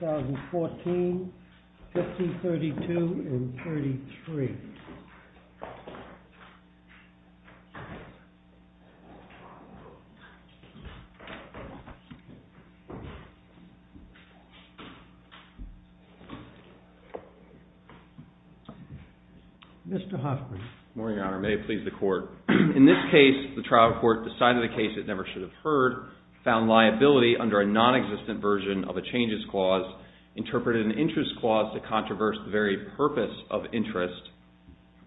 2014, 1532 and 1533. In this case, the trial court decided a case it never should have heard, found liability under a non-existent version of a changes clause, interpreted an interest clause to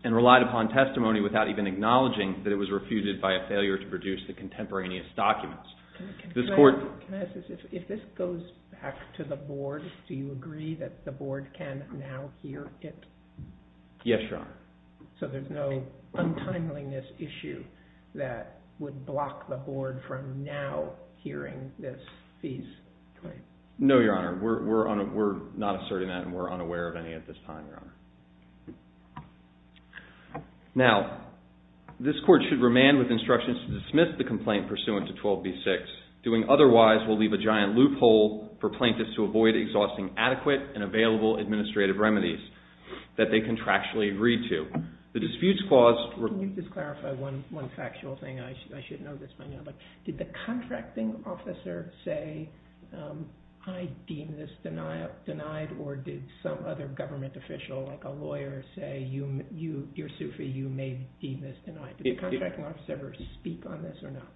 and relied upon testimony without even acknowledging that it was refuted by a failure to produce the contemporaneous documents. Can I ask this, if this goes back to the board, do you agree that the board can now hear it? Yes, Your Honor. So there's no untimeliness issue that would block the board from now hearing this piece? No, Your Honor. We're not asserting that and we're unaware of any at this time, Your Honor. Now, this court should remand with instructions to dismiss the complaint pursuant to 12b-6. Doing otherwise will leave a giant loophole for plaintiffs to avoid exhausting adequate and available administrative remedies that they contractually agree to. The disputes clause… Can you just clarify one factual thing? I should know this by now. But did the contracting officer say, I deem this denied or did some other government official like a lawyer say, you're Sufi, you may deem this denied? Did the contracting officer ever speak on this or not?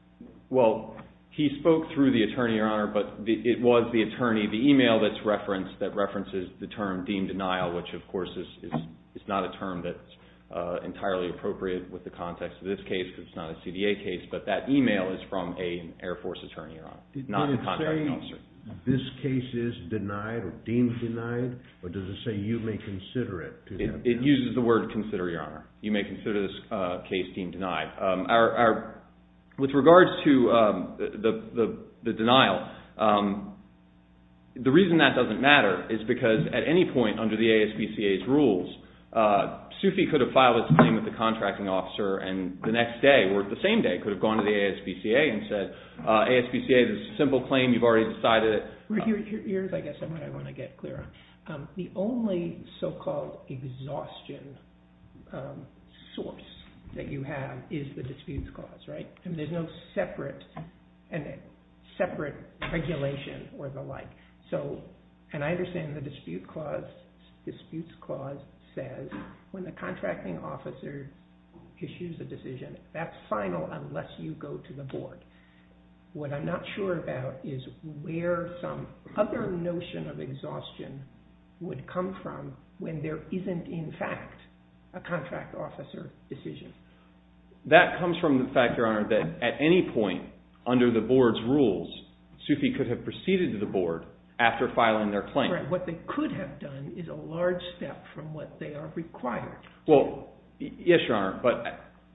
Well, he spoke through the attorney, Your Honor, but it was the attorney, the email that's referenced that references the term deemed denial, which of course is not a term that's entirely appropriate with the context of this case because it's not a CDA case, but that email is from an Air Force attorney, Your Honor, not a contracting officer. Did it say, this case is denied or deemed denied, or does it say you may consider it? It uses the word consider, Your Honor. You may consider this case deemed denied. With regards to the denial, the reason that doesn't matter is because at any point under the ASPCA's rules, Sufi could have filed his claim with the contracting officer and the next day or the same day could have gone to the ASPCA and said, ASPCA, this is a simple claim, you've already decided it. Here's, I guess, what I want to get clear on. The only so-called exhaustion source that you have is the disputes clause, right? And there's no separate regulation or the like. So, and I understand the dispute clause, disputes clause says when the contracting officer issues a decision, that's final unless you go to the board. What I'm not sure about is where some other notion of exhaustion would come from when there isn't, in fact, a contract officer decision. That comes from the fact, Your Honor, that at any point under the board's rules, Sufi could have proceeded to the board after filing their claim. What they could have done is a large step from what they are required to do. Well, yes, Your Honor, but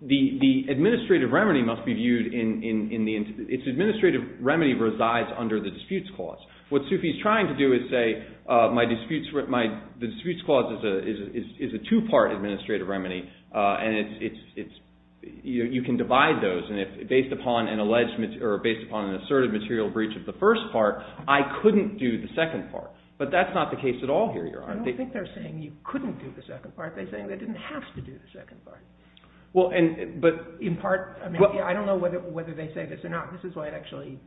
the administrative remedy must be viewed in the, its administrative remedy resides under the disputes clause. What Sufi's trying to do is say, my disputes, my, the disputes clause is a two-part administrative remedy and it's, you can divide those and if, based upon an alleged, or based upon an asserted material breach of the first part, I couldn't do the second part. But that's not the case at all here, Your Honor. I don't think they're saying you couldn't do the second part. They're saying they didn't have to do the second part. Well, and, but, in part, I mean, I don't know whether, whether they say this or not. This is why it actually,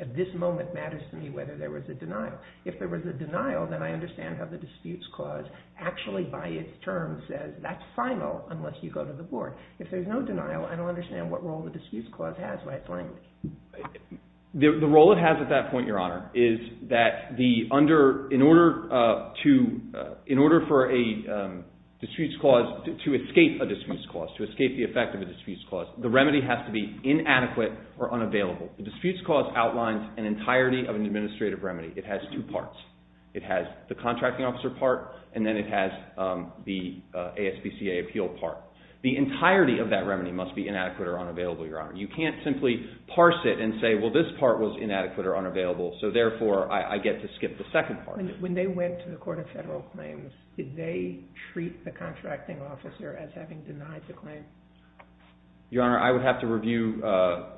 at this moment, matters to me whether there was a denial. If there was a denial, then I understand how the disputes clause actually, by its terms, says that's final unless you go to the board. If there's no denial, I don't understand what role the disputes clause has by its language. The, the role it has at that point, Your Honor, is that the under, in order to, in order for a disputes clause, to escape a disputes clause, to escape the effect of a disputes clause, the remedy has to be inadequate or unavailable. The disputes clause outlines an entirety of an administrative remedy. It has two parts. It has the contracting officer part and then it has the ASPCA appeal part. The entirety of that remedy must be inadequate or unavailable, Your Honor. You can't simply parse it and say, well, this part was inadequate or unavailable, so, therefore, I, I get to skip the second part. When, when they went to the Court of Federal Claims, did they treat the contracting officer as having denied the claim? Your Honor, I would have to review, uh,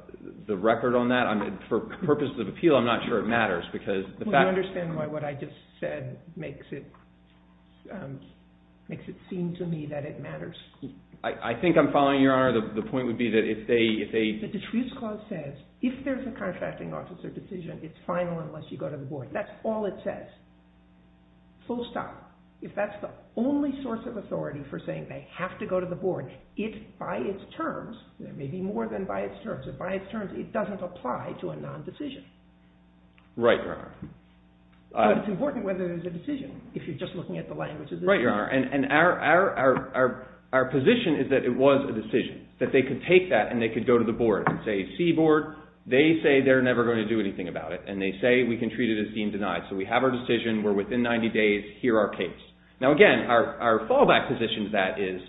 the record on that. I'm, for purposes of appeal, I'm not sure it matters, because the fact… Well, you understand why what I just said makes it, um, makes it seem to me that it matters. I, I think I'm following, Your Honor, the, the point would be that if they, if they… The disputes clause says, if there's a contracting officer decision, it's final unless you go to the board. If that's all it says, full stop, if that's the only source of authority for saying they have to go to the board, it, by its terms, it may be more than by its terms, if by its terms, it doesn't apply to a non-decision. Right, Your Honor. Uh… But it's important whether there's a decision, if you're just looking at the language of the decision. Right, Your Honor, and, and our, our, our, our position is that it was a decision, that they could take that and they could go to the board and say, see board, they say they're never going to do anything about it, and they say we can treat it as deemed denied, so we have our decision, we're within 90 days, here our case. Now again, our, our fallback position to that is,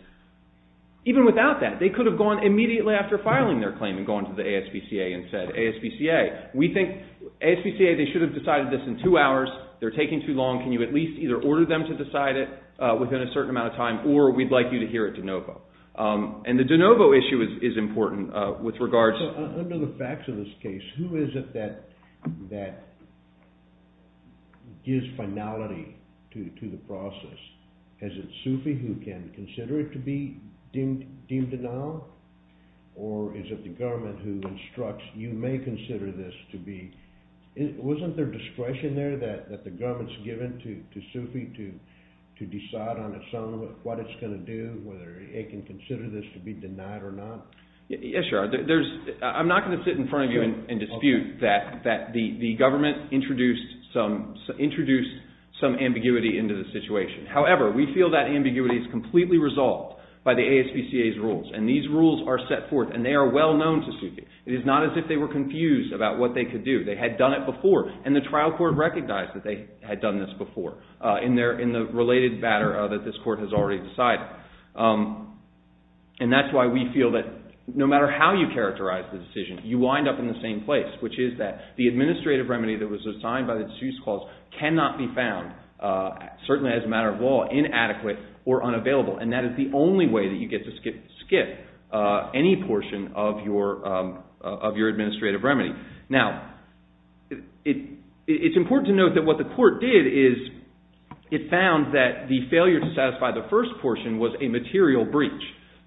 even without that, they could have gone immediately after filing their claim and gone to the ASPCA and said, ASPCA, we think, ASPCA, they should have decided this in two hours, they're taking too long, can you at least either order them to decide it, uh, within a certain amount of time, or we'd like you to hear it de novo. Um, and the de novo issue is, is important, uh, with regards… Under the facts of this case, who is it that, that gives finality to, to the process? Is it SUFI who can consider it to be deemed, deemed denial? Or is it the government who instructs, you may consider this to be, wasn't there discretion there that, that the government's given to, to SUFI to, to decide on its own what it's going to do, whether it can consider this to be denied or not? Yes, Your Honor. There's, I'm not going to sit in front of you and dispute that, that the, the government introduced some, introduced some ambiguity into the situation. However, we feel that ambiguity is completely resolved by the ASPCA's rules, and these rules are set forth, and they are well known to SUFI. It is not as if they were confused about what they could do, they had done it before, and the trial court recognized that they had done this before, uh, in their, in the related matter that this court has already decided. Um, and that's why we feel that no matter how you characterize the decision, you wind up in the same place, which is that the administrative remedy that was assigned by the deuce clause cannot be found, uh, certainly as a matter of law, inadequate or unavailable, and that is the only way that you get to skip, skip, uh, any portion of your, um, of your administrative remedy. Now, it, it, it's important to note that what the court did is it found that the failure to satisfy the first portion was a material breach,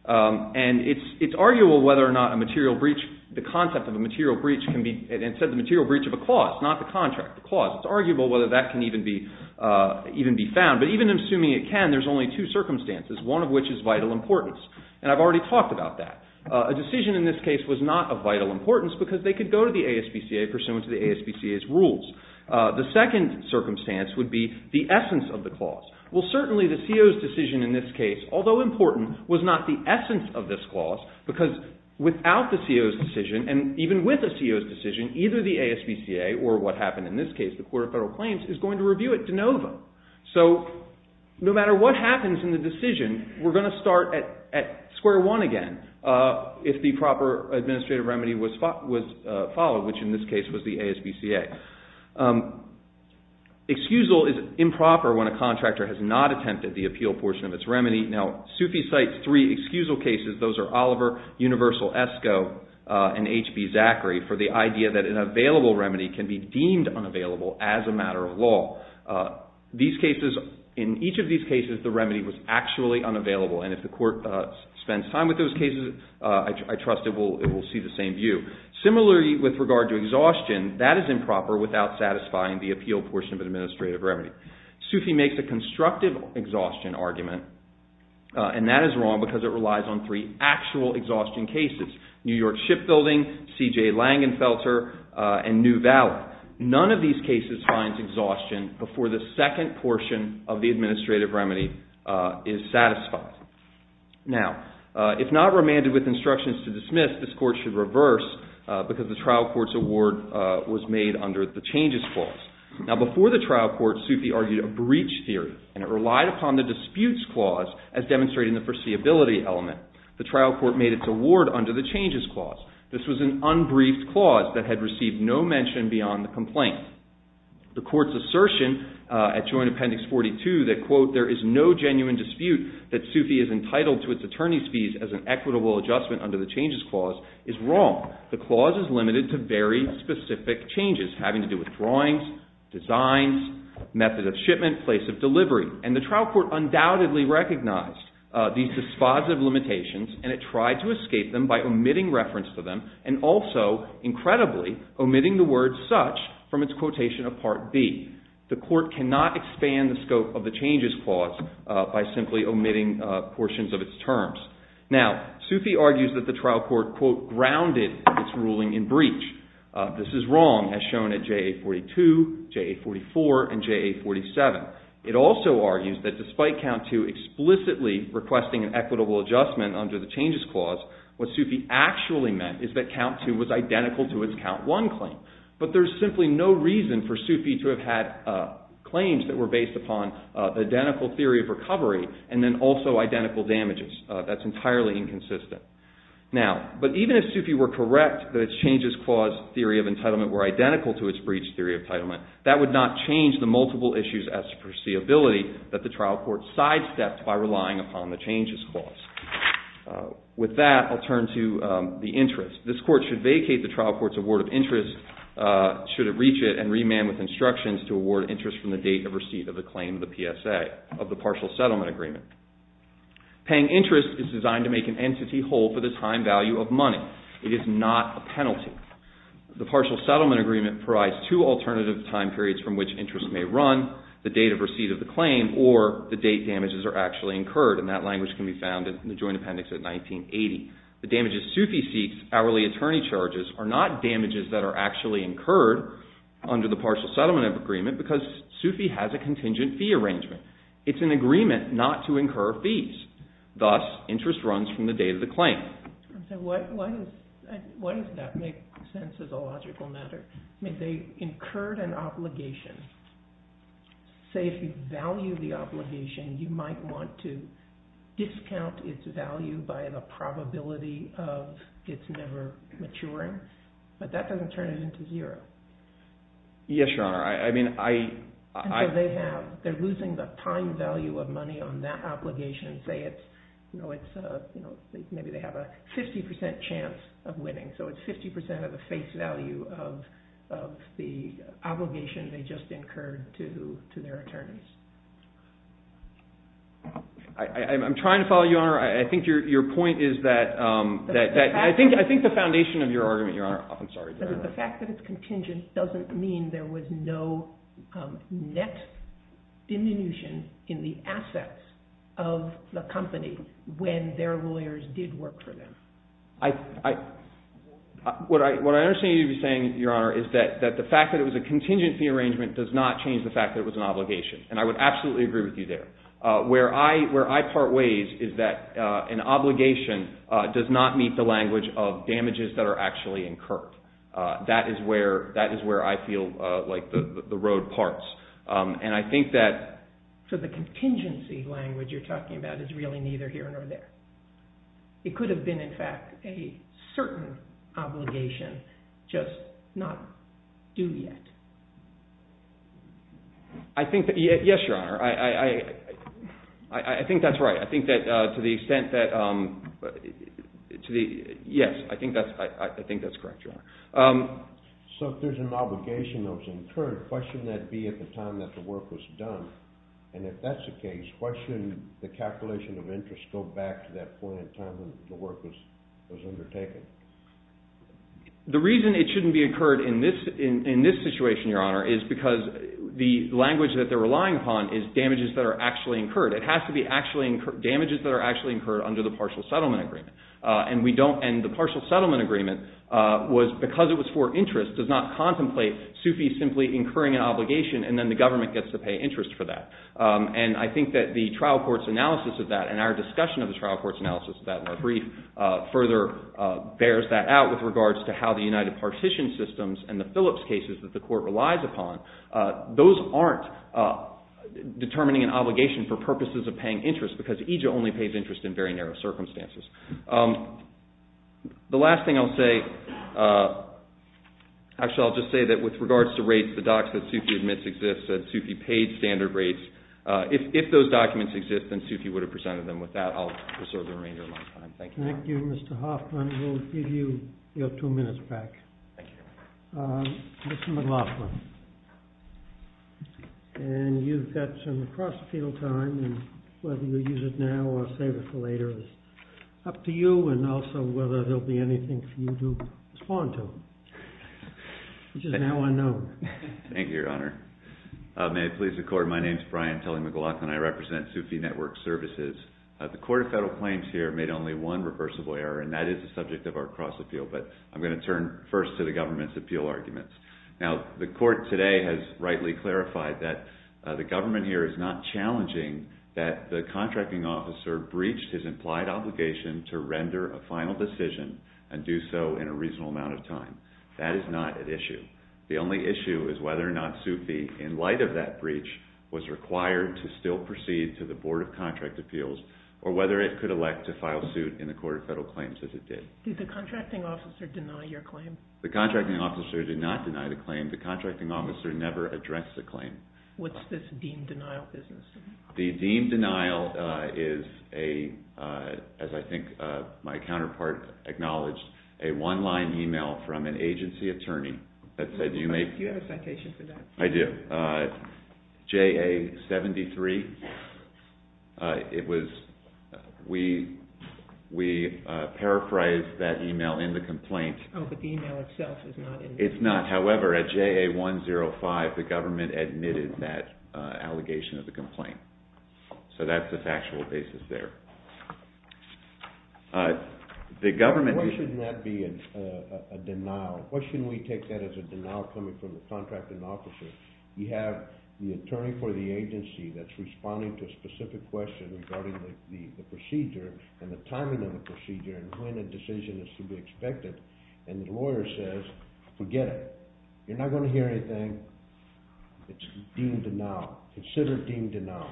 um, and it's, it's arguable whether or not a material breach, the concept of a material breach can be, instead of a material breach of a clause, not the contract, the clause, it's arguable whether that can even be, uh, even be found, but even assuming it can, there's only two circumstances, one of which is vital importance, and I've already talked about that. Uh, a decision in this case was not of vital importance because they could go to the ASBCA pursuant to the ASBCA's rules. Uh, the second circumstance would be the essence of the clause. Well, certainly the CO's decision in this case, although important, was not the essence of this clause because without the CO's decision, and even with the CO's decision, either the ASBCA, or what happened in this case, the court of federal claims, is going to review it de novo, so no matter what happens in the decision, we're gonna start at, at square one again. Uh, if the proper administrative remedy was, was, uh, followed, which in this case was the ASBCA. Um, excusal is improper when a contractor has not attempted the appeal portion of its remedy. Now, Sufi cites three excusal cases, those are Oliver, Universal-ESCO, uh, and HB-Zachary, for the idea that an available remedy can be deemed unavailable as a matter of law. Uh, these cases, in each of these cases, the remedy was actually unavailable, and if the court is fine with those cases, uh, I, I trust it will, it will see the same view. Similarly, with regard to exhaustion, that is improper without satisfying the appeal portion of an administrative remedy. Sufi makes a constructive exhaustion argument, uh, and that is wrong because it relies on three actual exhaustion cases, New York Shipbuilding, CJ Langenfelter, uh, and New Valley. None of these cases finds exhaustion before the second portion of the administrative remedy, uh, is satisfied. Now, uh, if not remanded with instructions to dismiss, this court should reverse, uh, because the trial court's award, uh, was made under the changes clause. Now, before the trial court, Sufi argued a breach theory, and it relied upon the disputes clause as demonstrating the foreseeability element. The trial court made its award under the changes clause. This was an unbriefed clause that had received no mention beyond the complaint. The court's assertion, uh, at Joint Appendix 42, that, quote, there is no genuine dispute that Sufi is entitled to its attorney's fees as an equitable adjustment under the changes clause is wrong. The clause is limited to very specific changes having to do with drawings, designs, method of shipment, place of delivery. And the trial court undoubtedly recognized, uh, these dispositive limitations, and it tried to escape them by omitting reference to them, and also, incredibly, omitting the word such from its quotation of Part B. The court cannot expand the scope of the changes clause, uh, by simply omitting, uh, portions of its terms. Now, Sufi argues that the trial court, quote, grounded its ruling in breach. Uh, this is wrong, as shown at JA-42, JA-44, and JA-47. It also argues that despite Count II explicitly requesting an equitable adjustment under the changes clause, what Sufi actually meant is that Count II was identical to its Count I claim. But there's simply no reason for Sufi to have had, uh, claims that were based upon, uh, the identical theory of recovery, and then also identical damages, uh, that's entirely inconsistent. Now, but even if Sufi were correct that its changes clause theory of entitlement were identical to its breach theory of entitlement, that would not change the multiple issues as to foreseeability that the trial court sidestepped by relying upon the changes clause. Uh, with that, I'll turn to, um, the interest. This court should vacate the trial court's award of interest, uh, should it reach it, and remand with instructions to award interest from the date of receipt of the claim of the PSA, of the partial settlement agreement. Paying interest is designed to make an entity whole for the time value of money. It is not a penalty. The partial settlement agreement provides two alternative time periods from which interest may run, the date of receipt of the claim, or the date damages are actually incurred, and that language can be found in the joint appendix at 1980. The damages Sufi seeks, hourly attorney charges, are not damages that are actually incurred under the partial settlement agreement because Sufi has a contingent fee arrangement. It's an agreement not to incur fees. Thus, interest runs from the date of the claim. And so what, why does, why does that make sense as a logical matter? I mean, they incurred an obligation, say if you value the obligation, you might want to incur the liability of it's never maturing, but that doesn't turn it into zero. Yes, your honor, I, I mean, I, I, they have, they're losing the time value of money on that obligation, say it's, you know, it's, uh, you know, maybe they have a 50% chance of winning. So it's 50% of the face value of, of the obligation they just incurred to, to their attorneys. I, I, I'm trying to follow your honor. I think your, your point is that, um, that, that I think, I think the foundation of your argument, your honor, I'm sorry. The fact that it's contingent doesn't mean there was no, um, net diminution in the assets of the company when their lawyers did work for them. I, I, what I, what I understand you to be saying, your honor, is that, that the fact that it was a contingency arrangement does not change the fact that it was an obligation. And I would absolutely agree with you there. Uh, where I, where I part ways is that, uh, an obligation, uh, does not meet the language of damages that are actually incurred. Uh, that is where, that is where I feel, uh, like the, the, the road parts. Um, and I think that, so the contingency language you're talking about is really neither here nor there. It could have been in fact a certain obligation, just not due yet. I think that, yes, your honor, I, I, I, I, I think that's right. I think that, uh, to the extent that, um, to the, yes, I think that's, I, I, I think that's correct, your honor. Um. So if there's an obligation that was incurred, why shouldn't that be at the time that the work was done? And if that's the case, why shouldn't the calculation of interest go back to that point in time when the work was, was undertaken? The reason it shouldn't be incurred in this, in, in this situation, your honor, is because the language that they're relying upon is damages that are actually incurred. It has to be actually incurred, damages that are actually incurred under the partial settlement agreement. Uh, and we don't, and the partial settlement agreement, uh, was, because it was for interest does not contemplate SUFI simply incurring an obligation and then the government gets to pay interest for that. Um, and I think that the trial court's analysis of that and our discussion of the trial court's analysis of that in our brief, uh, further, uh, bears that out with regards to how the United Partition Systems and the Phillips cases that the court relies upon, uh, those aren't, uh, determining an obligation for purposes of paying interest because EJIA only pays interest in very narrow circumstances. Um, the last thing I'll say, uh, actually I'll just say that with regards to rates, the docs that SUFI admits exist, that SUFI paid standard rates, uh, if, if those documents exist, then SUFI would have presented them with that. I'll reserve the remainder of my time. Thank you. Thank you, Mr. Hoffman. We'll give you your two minutes back. Thank you. Uh, Mr. McLaughlin, and you've got some cross field time and whether you use it now or save it for later is up to you. And also whether there'll be anything for you to respond to, which is now unknown. Thank you, Your Honor. Uh, may it please the court. My name's Brian Tully McLaughlin. I represent SUFI Network Services. Uh, the court of federal claims here made only one reversible error and that is the subject of our cross appeal. But I'm going to turn first to the government's appeal arguments. Now, the court today has rightly clarified that, uh, the government here is not challenging that the contracting officer breached his implied obligation to render a final decision and do so in a reasonable amount of time. That is not an issue. The only issue is whether or not SUFI in light of that breach was required to still proceed to the board of contract appeals or whether it could elect to file suit in the court of federal claims as it did. Did the contracting officer deny your claim? The contracting officer did not deny the claim. The contracting officer never addressed the claim. What's this deemed denial business? The deemed denial, uh, is a, uh, as I think, uh, my counterpart acknowledged a one line email from an agency attorney that said, do you make... Do you have a citation for that? I do, uh, JA 73. Uh, it was, uh, we, we, uh, paraphrased that email in the complaint. Oh, but the email itself is not in there. It's not. However, at JA 105, the government admitted that, uh, allegation of the complaint. So that's the factual basis there. Uh, the government... Uh, uh, a denial. Why shouldn't we take that as a denial coming from the contracting officer? You have the attorney for the agency that's responding to a specific question regarding the procedure and the timing of the procedure and when a decision is to be expected and the lawyer says, forget it. You're not going to hear anything. It's deemed denial. Consider deemed denial.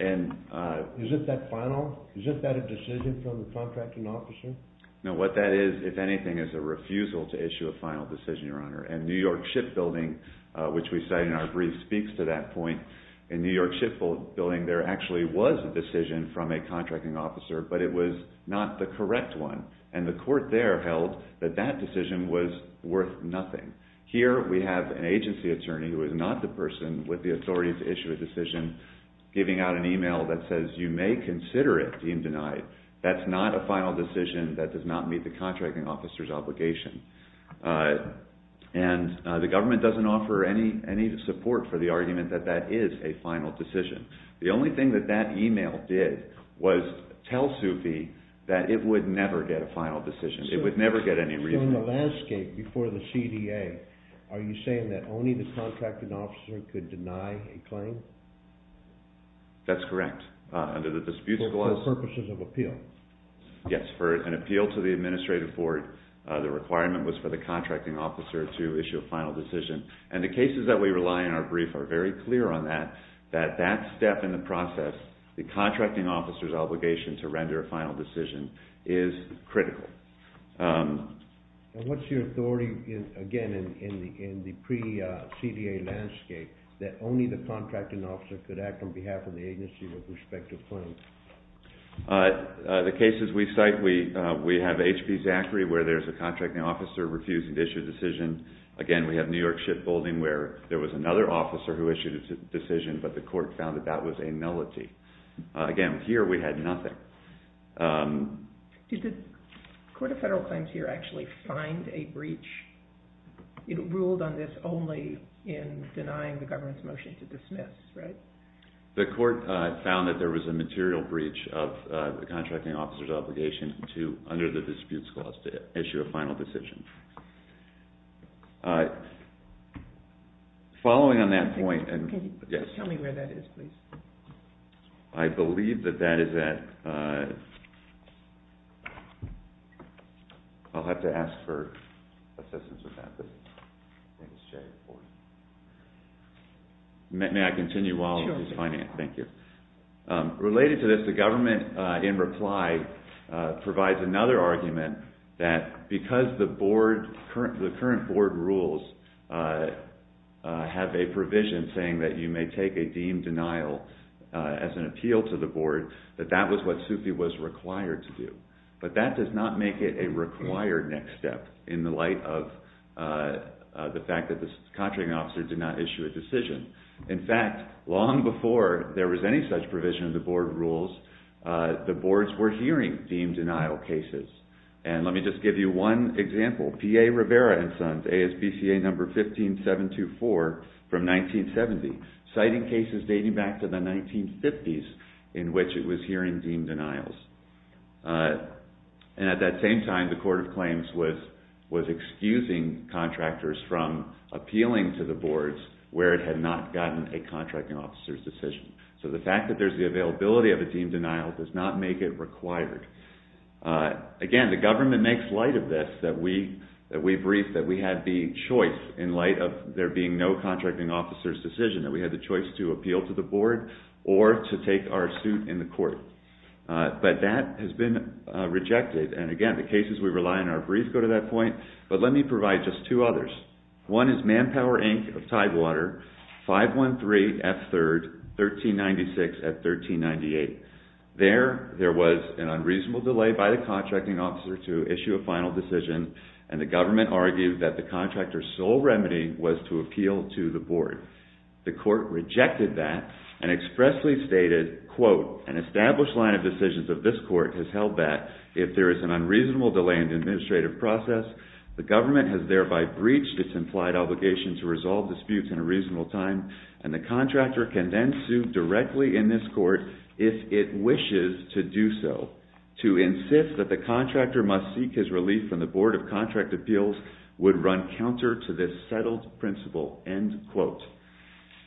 And, uh, is it that final, is it that a decision from the contracting officer? No, what that is, if anything, is a refusal to issue a final decision, Your Honor, and New York Shipbuilding, uh, which we cited in our brief speaks to that point in New York Shipbuilding, there actually was a decision from a contracting officer, but it was not the correct one. And the court there held that that decision was worth nothing. Here, we have an agency attorney who is not the person with the authority to issue a decision, giving out an email that says you may consider it deemed denied. That's not a final decision that does not meet the contracting officer's obligation. Uh, and, uh, the government doesn't offer any, any support for the argument that that is a final decision. The only thing that that email did was tell Sufi that it would never get a final decision. It would never get any reason. So in the landscape before the CDA, are you saying that only the contracting officer could deny a claim? That's correct. Uh, under the dispute clause. For purposes of appeal. Yes. For an appeal to the administrative board, uh, the requirement was for the contracting officer to issue a final decision. And the cases that we rely on in our brief are very clear on that, that that step in the process, the contracting officer's obligation to render a final decision is critical. Um. And what's your authority in, again, in, in the, in the pre, uh, CDA landscape that only the contracting officer could act on behalf of the agency with respect to claims? Uh, uh, the cases we cite, we, uh, we have HP Zachary where there's a contracting officer refusing to issue a decision. Again, we have New York ship building where there was another officer who issued a decision, but the court found that that was a nullity. Uh, again, here we had nothing. Um. Did the court of federal claims here actually find a breach? It ruled on this only in denying the government's motion to dismiss, right? The court, uh, found that there was a material breach of, uh, the contracting officer's obligation to, under the disputes clause, to issue a final decision. Uh, following on that point and yes, tell me where that is, please. I believe that that is that, uh, I'll have to ask for a second. I think it's Jay. May I continue while he's finding it? Thank you. Um, related to this, the government, uh, in reply, uh, provides another argument that because the board current, the current board rules, uh, uh, have a provision saying that you may take a deemed denial, uh, as an appeal to the board, that that was what Sufi was required to do, but that does not make it a required next step in the light of, uh, uh, the fact that this contracting officer did not issue a decision. In fact, long before there was any such provision of the board rules, uh, the boards were hearing deemed denial cases. And let me just give you one example, PA Rivera and Sons, ASPCA number 15724 from 1970, citing cases dating back to the 1950s in which it was hearing deemed denials. Uh, and at that same time, the court of claims was, was excusing contractors from appealing to the boards where it had not gotten a contracting officer's decision. So the fact that there's the availability of a deemed denial does not make it required. Uh, again, the government makes light of this, that we, that we briefed, that we had the choice in light of there being no contracting officer's decision that we had the choice to appeal to the board or to take our suit in the court. Uh, but that has been rejected. And again, the cases we rely on in our brief go to that point, but let me provide just two others. One is Manpower Inc of Tidewater, 513F3rd, 1396 at 1398. There, there was an unreasonable delay by the contracting officer to issue a final decision. And the government argued that the contractor's sole remedy was to appeal to the board. The court rejected that and expressly stated, quote, an established line of decisions of this court has held that if there is an unreasonable delay in the administrative process, the government has thereby breached its implied obligation to resolve disputes in a reasonable time. And the contractor can then sue directly in this court if it wishes to do so. To insist that the contractor must seek his relief from the board of contract appeals would run counter to this settled principle, end quote.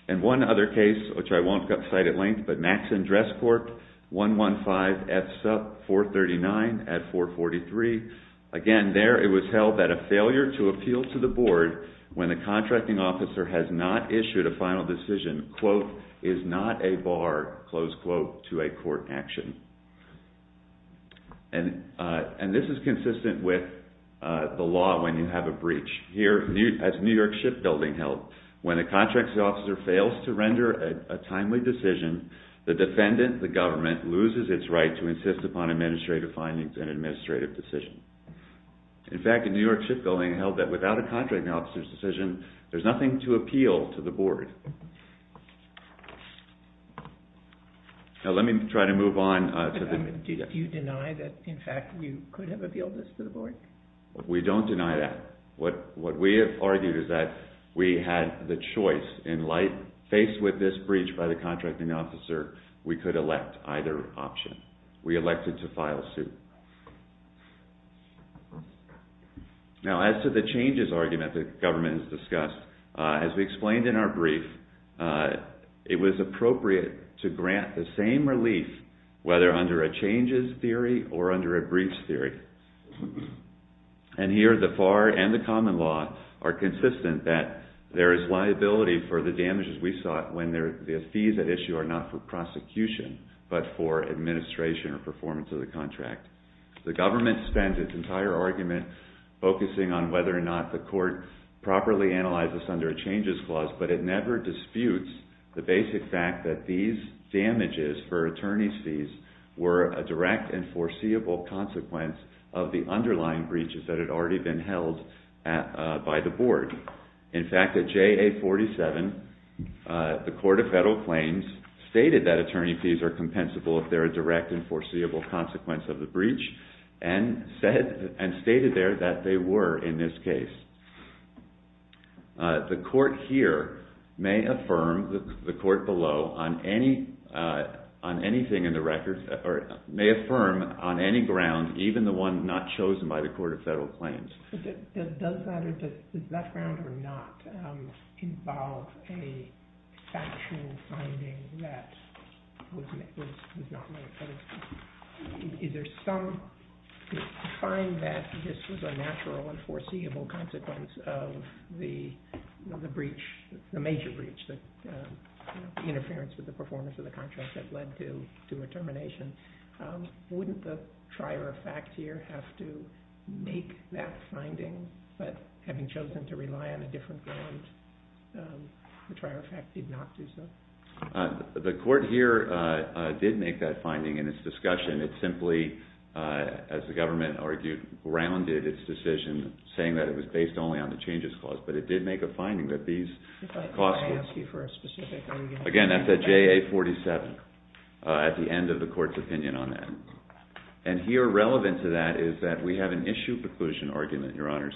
And one other case, which I won't cite at length, but Maxon Dress Court, 115F Sup, 439 at 443. Again, there it was held that a failure to appeal to the board when the contracting officer has not issued a final decision, quote, is not a bar, close quote, to a court action. And, uh, and this is consistent with, uh, the law when you have a breach. Here, as New York Shipbuilding held, when a contracting officer fails to render a timely decision, the defendant, the government, loses its right to insist upon administrative findings and administrative decision. In fact, the New York Shipbuilding held that without a contracting officer's decision, there's nothing to appeal to the board. Now, let me try to move on to the next. Do you deny that in fact you could have appealed this to the board? We don't deny that. What, what we have argued is that we had the choice in light, faced with this breach by the contracting officer, we could elect either option. We elected to file suit. Now, as to the changes argument that government has discussed, uh, as we explained in our brief, uh, it was appropriate to grant the same relief, whether under a changes theory or under a briefs theory. And here, the FAR and the common law are consistent that there is liability for the damages we sought when there, the fees at issue are not for prosecution, but for administration or performance of the contract. The government spends its entire argument focusing on whether or not the court properly analyzes under a changes clause, but it never disputes the basic fact that these damages for attorney's fees were a direct and foreseeable consequence of the underlying breaches that had already been held at, uh, by the board. In fact, at JA 47, uh, the court of federal claims stated that attorney fees are compensable if they're a direct and foreseeable consequence of the breach and said, and stated there that they were in this case. Uh, the court here may affirm the court below on any, uh, on anything in the ground, even the one not chosen by the court of federal claims. Does that, does that ground or not, um, involve a factual finding that was, was, was not made? Is there some, to find that this was a natural and foreseeable consequence of the, the breach, the major breach that, uh, interference with the performance of the contract that led to, to a termination, um, wouldn't the trier of fact here have to make that finding, but having chosen to rely on a different ground, um, the trier of fact did not do so? Uh, the court here, uh, uh, did make that finding in its discussion. It's simply, uh, as the government argued, grounded its decision saying that it was based only on the changes clause, but it did make a finding that these costs were, again, that's at JA 47, uh, at the end of the court's opinion on that. And here relevant to that is that we have an issue preclusion argument, your honors,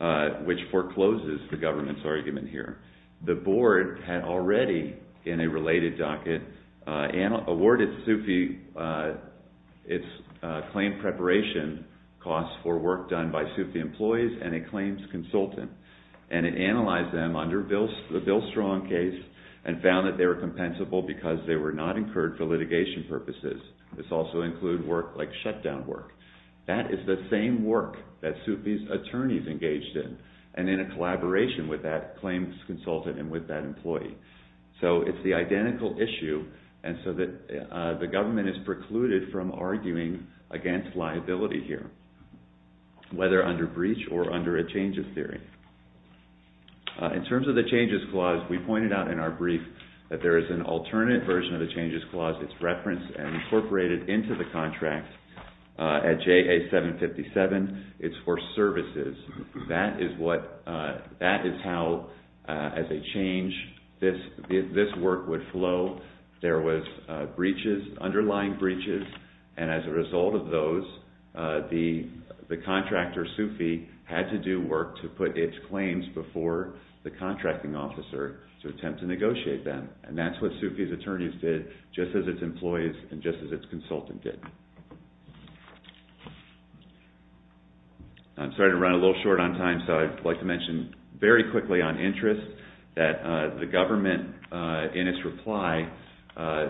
uh, which forecloses the government's argument here. The board had already in a related docket, uh, and awarded Sufi, uh, it's, uh, claim preparation costs for work done by Sufi employees and a claims consultant, and it analyzed them under Bill's, the Bill Strong case and found that they were compensable because they were not incurred for litigation purposes. This also include work like shutdown work. That is the same work that Sufi's attorneys engaged in and in a collaboration with that claims consultant and with that employee. So it's the identical issue. And so that, uh, the government is precluded from arguing against liability here, whether under breach or under a change of theory. Uh, in terms of the changes clause, we pointed out in our brief that there is an alternate version of the changes clause. It's referenced and incorporated into the contract, uh, at JA 757. It's for services. That is what, uh, that is how, uh, as a change, this, this work would flow. There was, uh, breaches, underlying breaches. And as a result of those, uh, the, the contractor Sufi had to do work to put its claims before the contracting officer to attempt to negotiate them. And that's what Sufi's attorneys did just as its employees and just as its consultant did. I'm sorry to run a little short on time. So I'd like to mention very quickly on interest that, uh, the government, uh, in its reply, uh,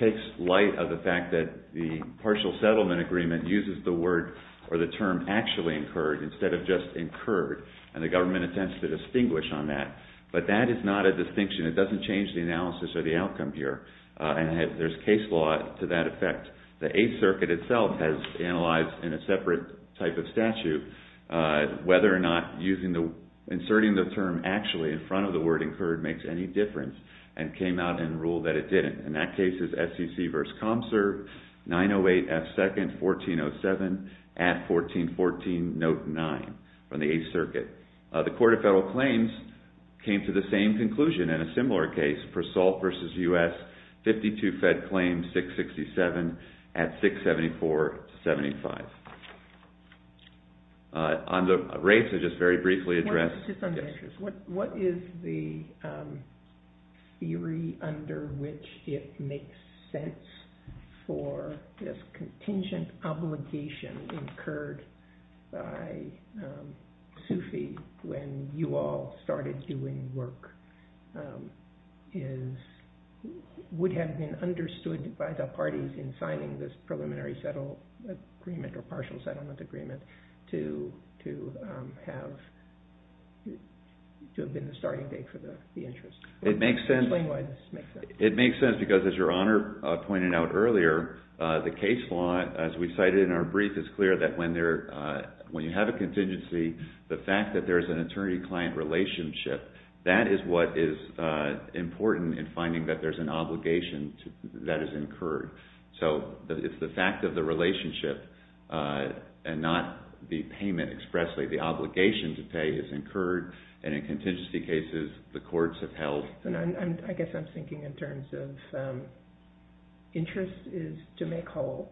takes light of the fact that the partial settlement agreement uses the word or the term actually incurred instead of just incurred. And the government attempts to distinguish on that, but that is not a distinction. It doesn't change the analysis or the outcome here. Uh, and there's case law to that effect. The Eighth Circuit itself has analyzed in a separate type of statute, uh, whether or not using the, inserting the term actually in front of the word incurred makes any difference and came out and ruled that it didn't. In that case is SEC v. ComServe 908 F2nd 1407 at 1414 note nine from the Eighth Circuit. Uh, the Court of Federal Claims came to the same conclusion in a similar case Persol v. U.S. 52 Fed Claims 667 at 674-75. Uh, on the rates are just very briefly addressed. What is the, um, theory under which it makes sense for this contingent obligation incurred by, um, SUFI when you all started doing work, um, is would have been understood by the parties in signing this preliminary settle agreement or partial settlement agreement to, to, um, have, to have been the starting date for the, the interest. It makes sense. It makes sense because as your Honor, uh, pointed out earlier, uh, the case law, as we cited in our brief, it's clear that when there, uh, when you have a contingency, the fact that there's an attorney client relationship, that is what is, uh, important in finding that there's an obligation that is incurred. So it's the fact of the relationship, uh, and not the payment expressly, the obligation to pay is incurred. And in contingency cases, the courts have held. And I'm, I guess I'm thinking in terms of, um, interest is to make whole.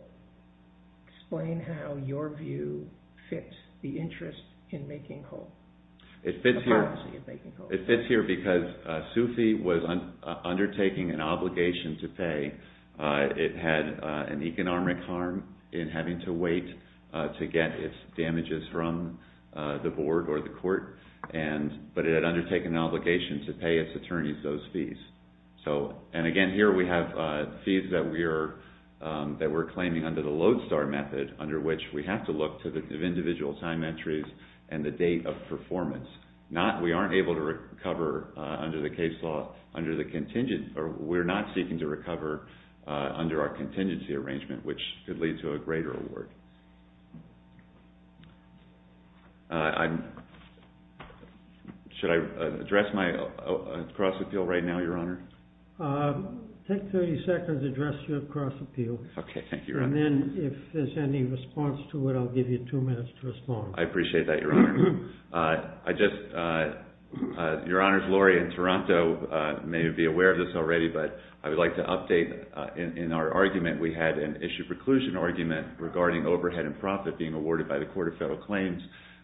Explain how your view fits the interest in making whole. It fits here because, uh, SUFI was undertaking an obligation to pay. Uh, it had, uh, an economic harm in having to wait, uh, to get its damages from, uh, the board or the court. And, but it had undertaken an obligation to pay its attorneys those fees. So, and again, here we have, uh, fees that we are, um, that we're claiming under the Lodestar method, under which we have to look to the individual time entries and the date of performance. Not, we aren't able to recover, uh, under the case law under the contingent, or we're not seeking to recover, uh, under our contingency arrangement, which could lead to a greater award. Uh, I'm, should I address my, uh, cross appeal right now, your Honor? Uh, take 30 seconds to address your cross appeal. Okay. Thank you. And then if there's any response to it, I'll give you two minutes to respond. I appreciate that. Your Honor, uh, I just, uh, uh, your Honor's Lori in Toronto, uh, may be aware of this already, but I would like to update, uh, in, in our argument. We had an issue preclusion argument regarding overpaying the overhead and profit being awarded by the Court of Federal Claims.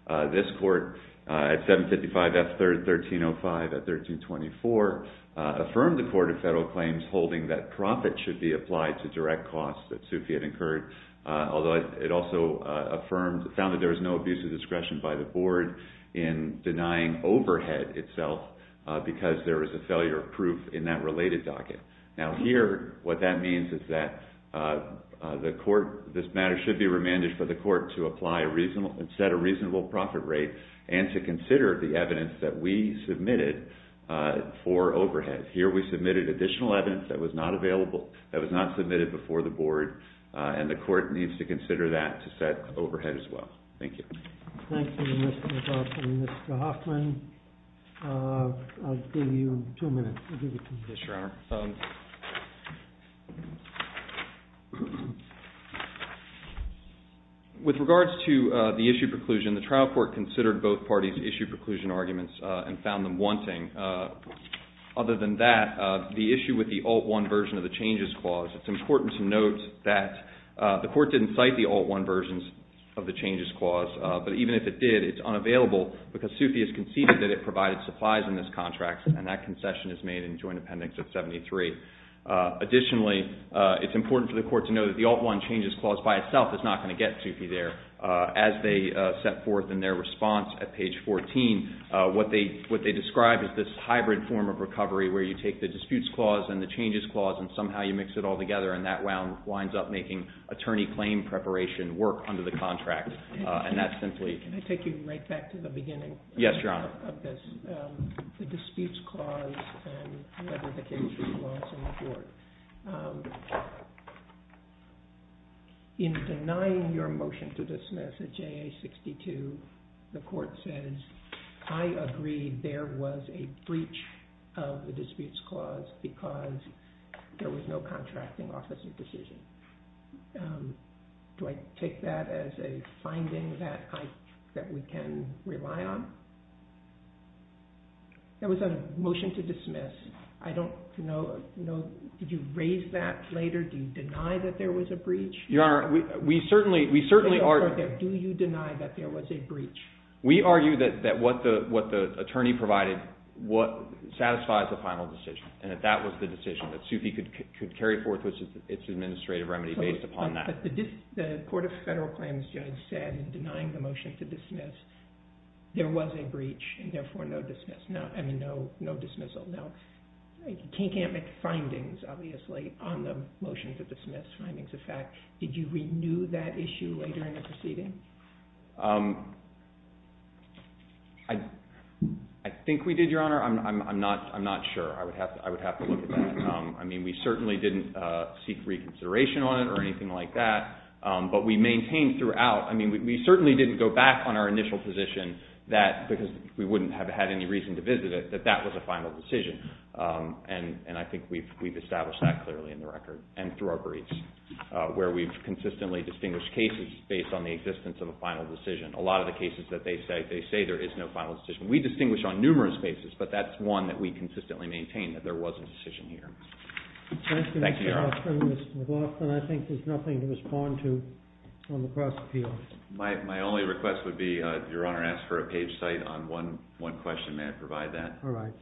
Uh, this court, uh, at 755 F 3rd, 1305 at 1324, uh, affirmed the Court of Federal Claims holding that profit should be applied to direct costs that Sufi had incurred, uh, although it also, uh, affirmed, found that there was no abuse of discretion by the board in denying overhead itself, uh, because there was a failure of proof in that related docket. Now here, what that means is that, uh, uh, the court, this matter should be remanded for the court to apply a reasonable, set a reasonable profit rate and to consider the evidence that we submitted, uh, for overhead. Here, we submitted additional evidence that was not available, that was not submitted before the board, uh, and the court needs to consider that to set overhead as well. Thank you. Thank you, Mr. Hoffman. Mr. Hoffman, uh, I'll give you two minutes. I'll give you two minutes. Yes, Your Honor. Um, with regards to, uh, the issue preclusion, the trial court considered both parties' issue preclusion arguments, uh, and found them wanting, uh, other than that, uh, the issue with the Alt-1 version of the changes clause, it's important to note that, uh, the court didn't cite the Alt-1 versions of the changes clause, uh, but even if it did, it's unavailable because Sufi has conceded that it provided supplies in this contract and that concession is made in joint appendix of 73, uh, additionally, uh, it's important for the court to know that the Alt-1 changes clause by itself is not going to get Sufi there, uh, as they, uh, set forth in their response at page 14, uh, what they, what they described as this hybrid form of recovery where you take the disputes clause and the changes clause and somehow you mix it all together and that wound winds up making attorney claim preparation work under the contract. Uh, and that's simply... Can I take you right back to the beginning? Yes, Your Honor. Of this, um, the disputes clause and whether the case was lost in the court. Um, in denying your motion to dismiss at JA 62, the court says, I agree there was a breach of the disputes clause because there was no contracting officer decision. Um, do I take that as a finding that I, that we can rely on? There was a motion to dismiss. I don't know, you know, did you raise that later? Do you deny that there was a breach? Your Honor, we, we certainly, we certainly argue... Do you deny that there was a breach? We argue that, that what the, what the attorney provided, what satisfies the final decision and that that was the decision that Sufi could, could carry forth with its administrative remedy based upon that. The court of federal claims judge said in denying the motion to dismiss, there was a breach and therefore no dismiss, no, I mean, no, no dismissal. Now, can't make findings obviously on the motion to dismiss findings of fact. Did you renew that issue later in the proceeding? Um, I, I think we did, Your Honor. I'm, I'm, I'm not, I'm not sure. I would have to, I would have to look at that. Um, I mean, we certainly didn't, uh, seek reconsideration on it or anything like that. Um, but we maintained throughout. I mean, we certainly didn't go back on our initial position that, because we wouldn't have had any reason to visit it, that that was a final decision. Um, and, and I think we've, we've established that clearly in the record and through our briefs, uh, where we've consistently distinguished cases based on the existence of a final decision. A lot of the cases that they say, they say there is no final decision. We distinguish on numerous bases, but that's one that we consistently maintain that there was a decision here. Thank you, Your Honor. Mr. McLaughlin, I think there's nothing to respond to on the cross-appeal. My, my only request would be, uh, Your Honor asked for a page cite on one, one question. May I provide that? All right.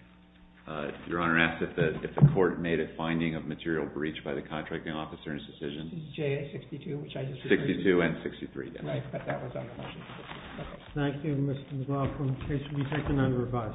Uh, Your Honor asked if the, if the court made a finding of material breach by the contracting officer in his decision, 62 and 63. Thank you, Mr. McLaughlin. The case will be taken under revised.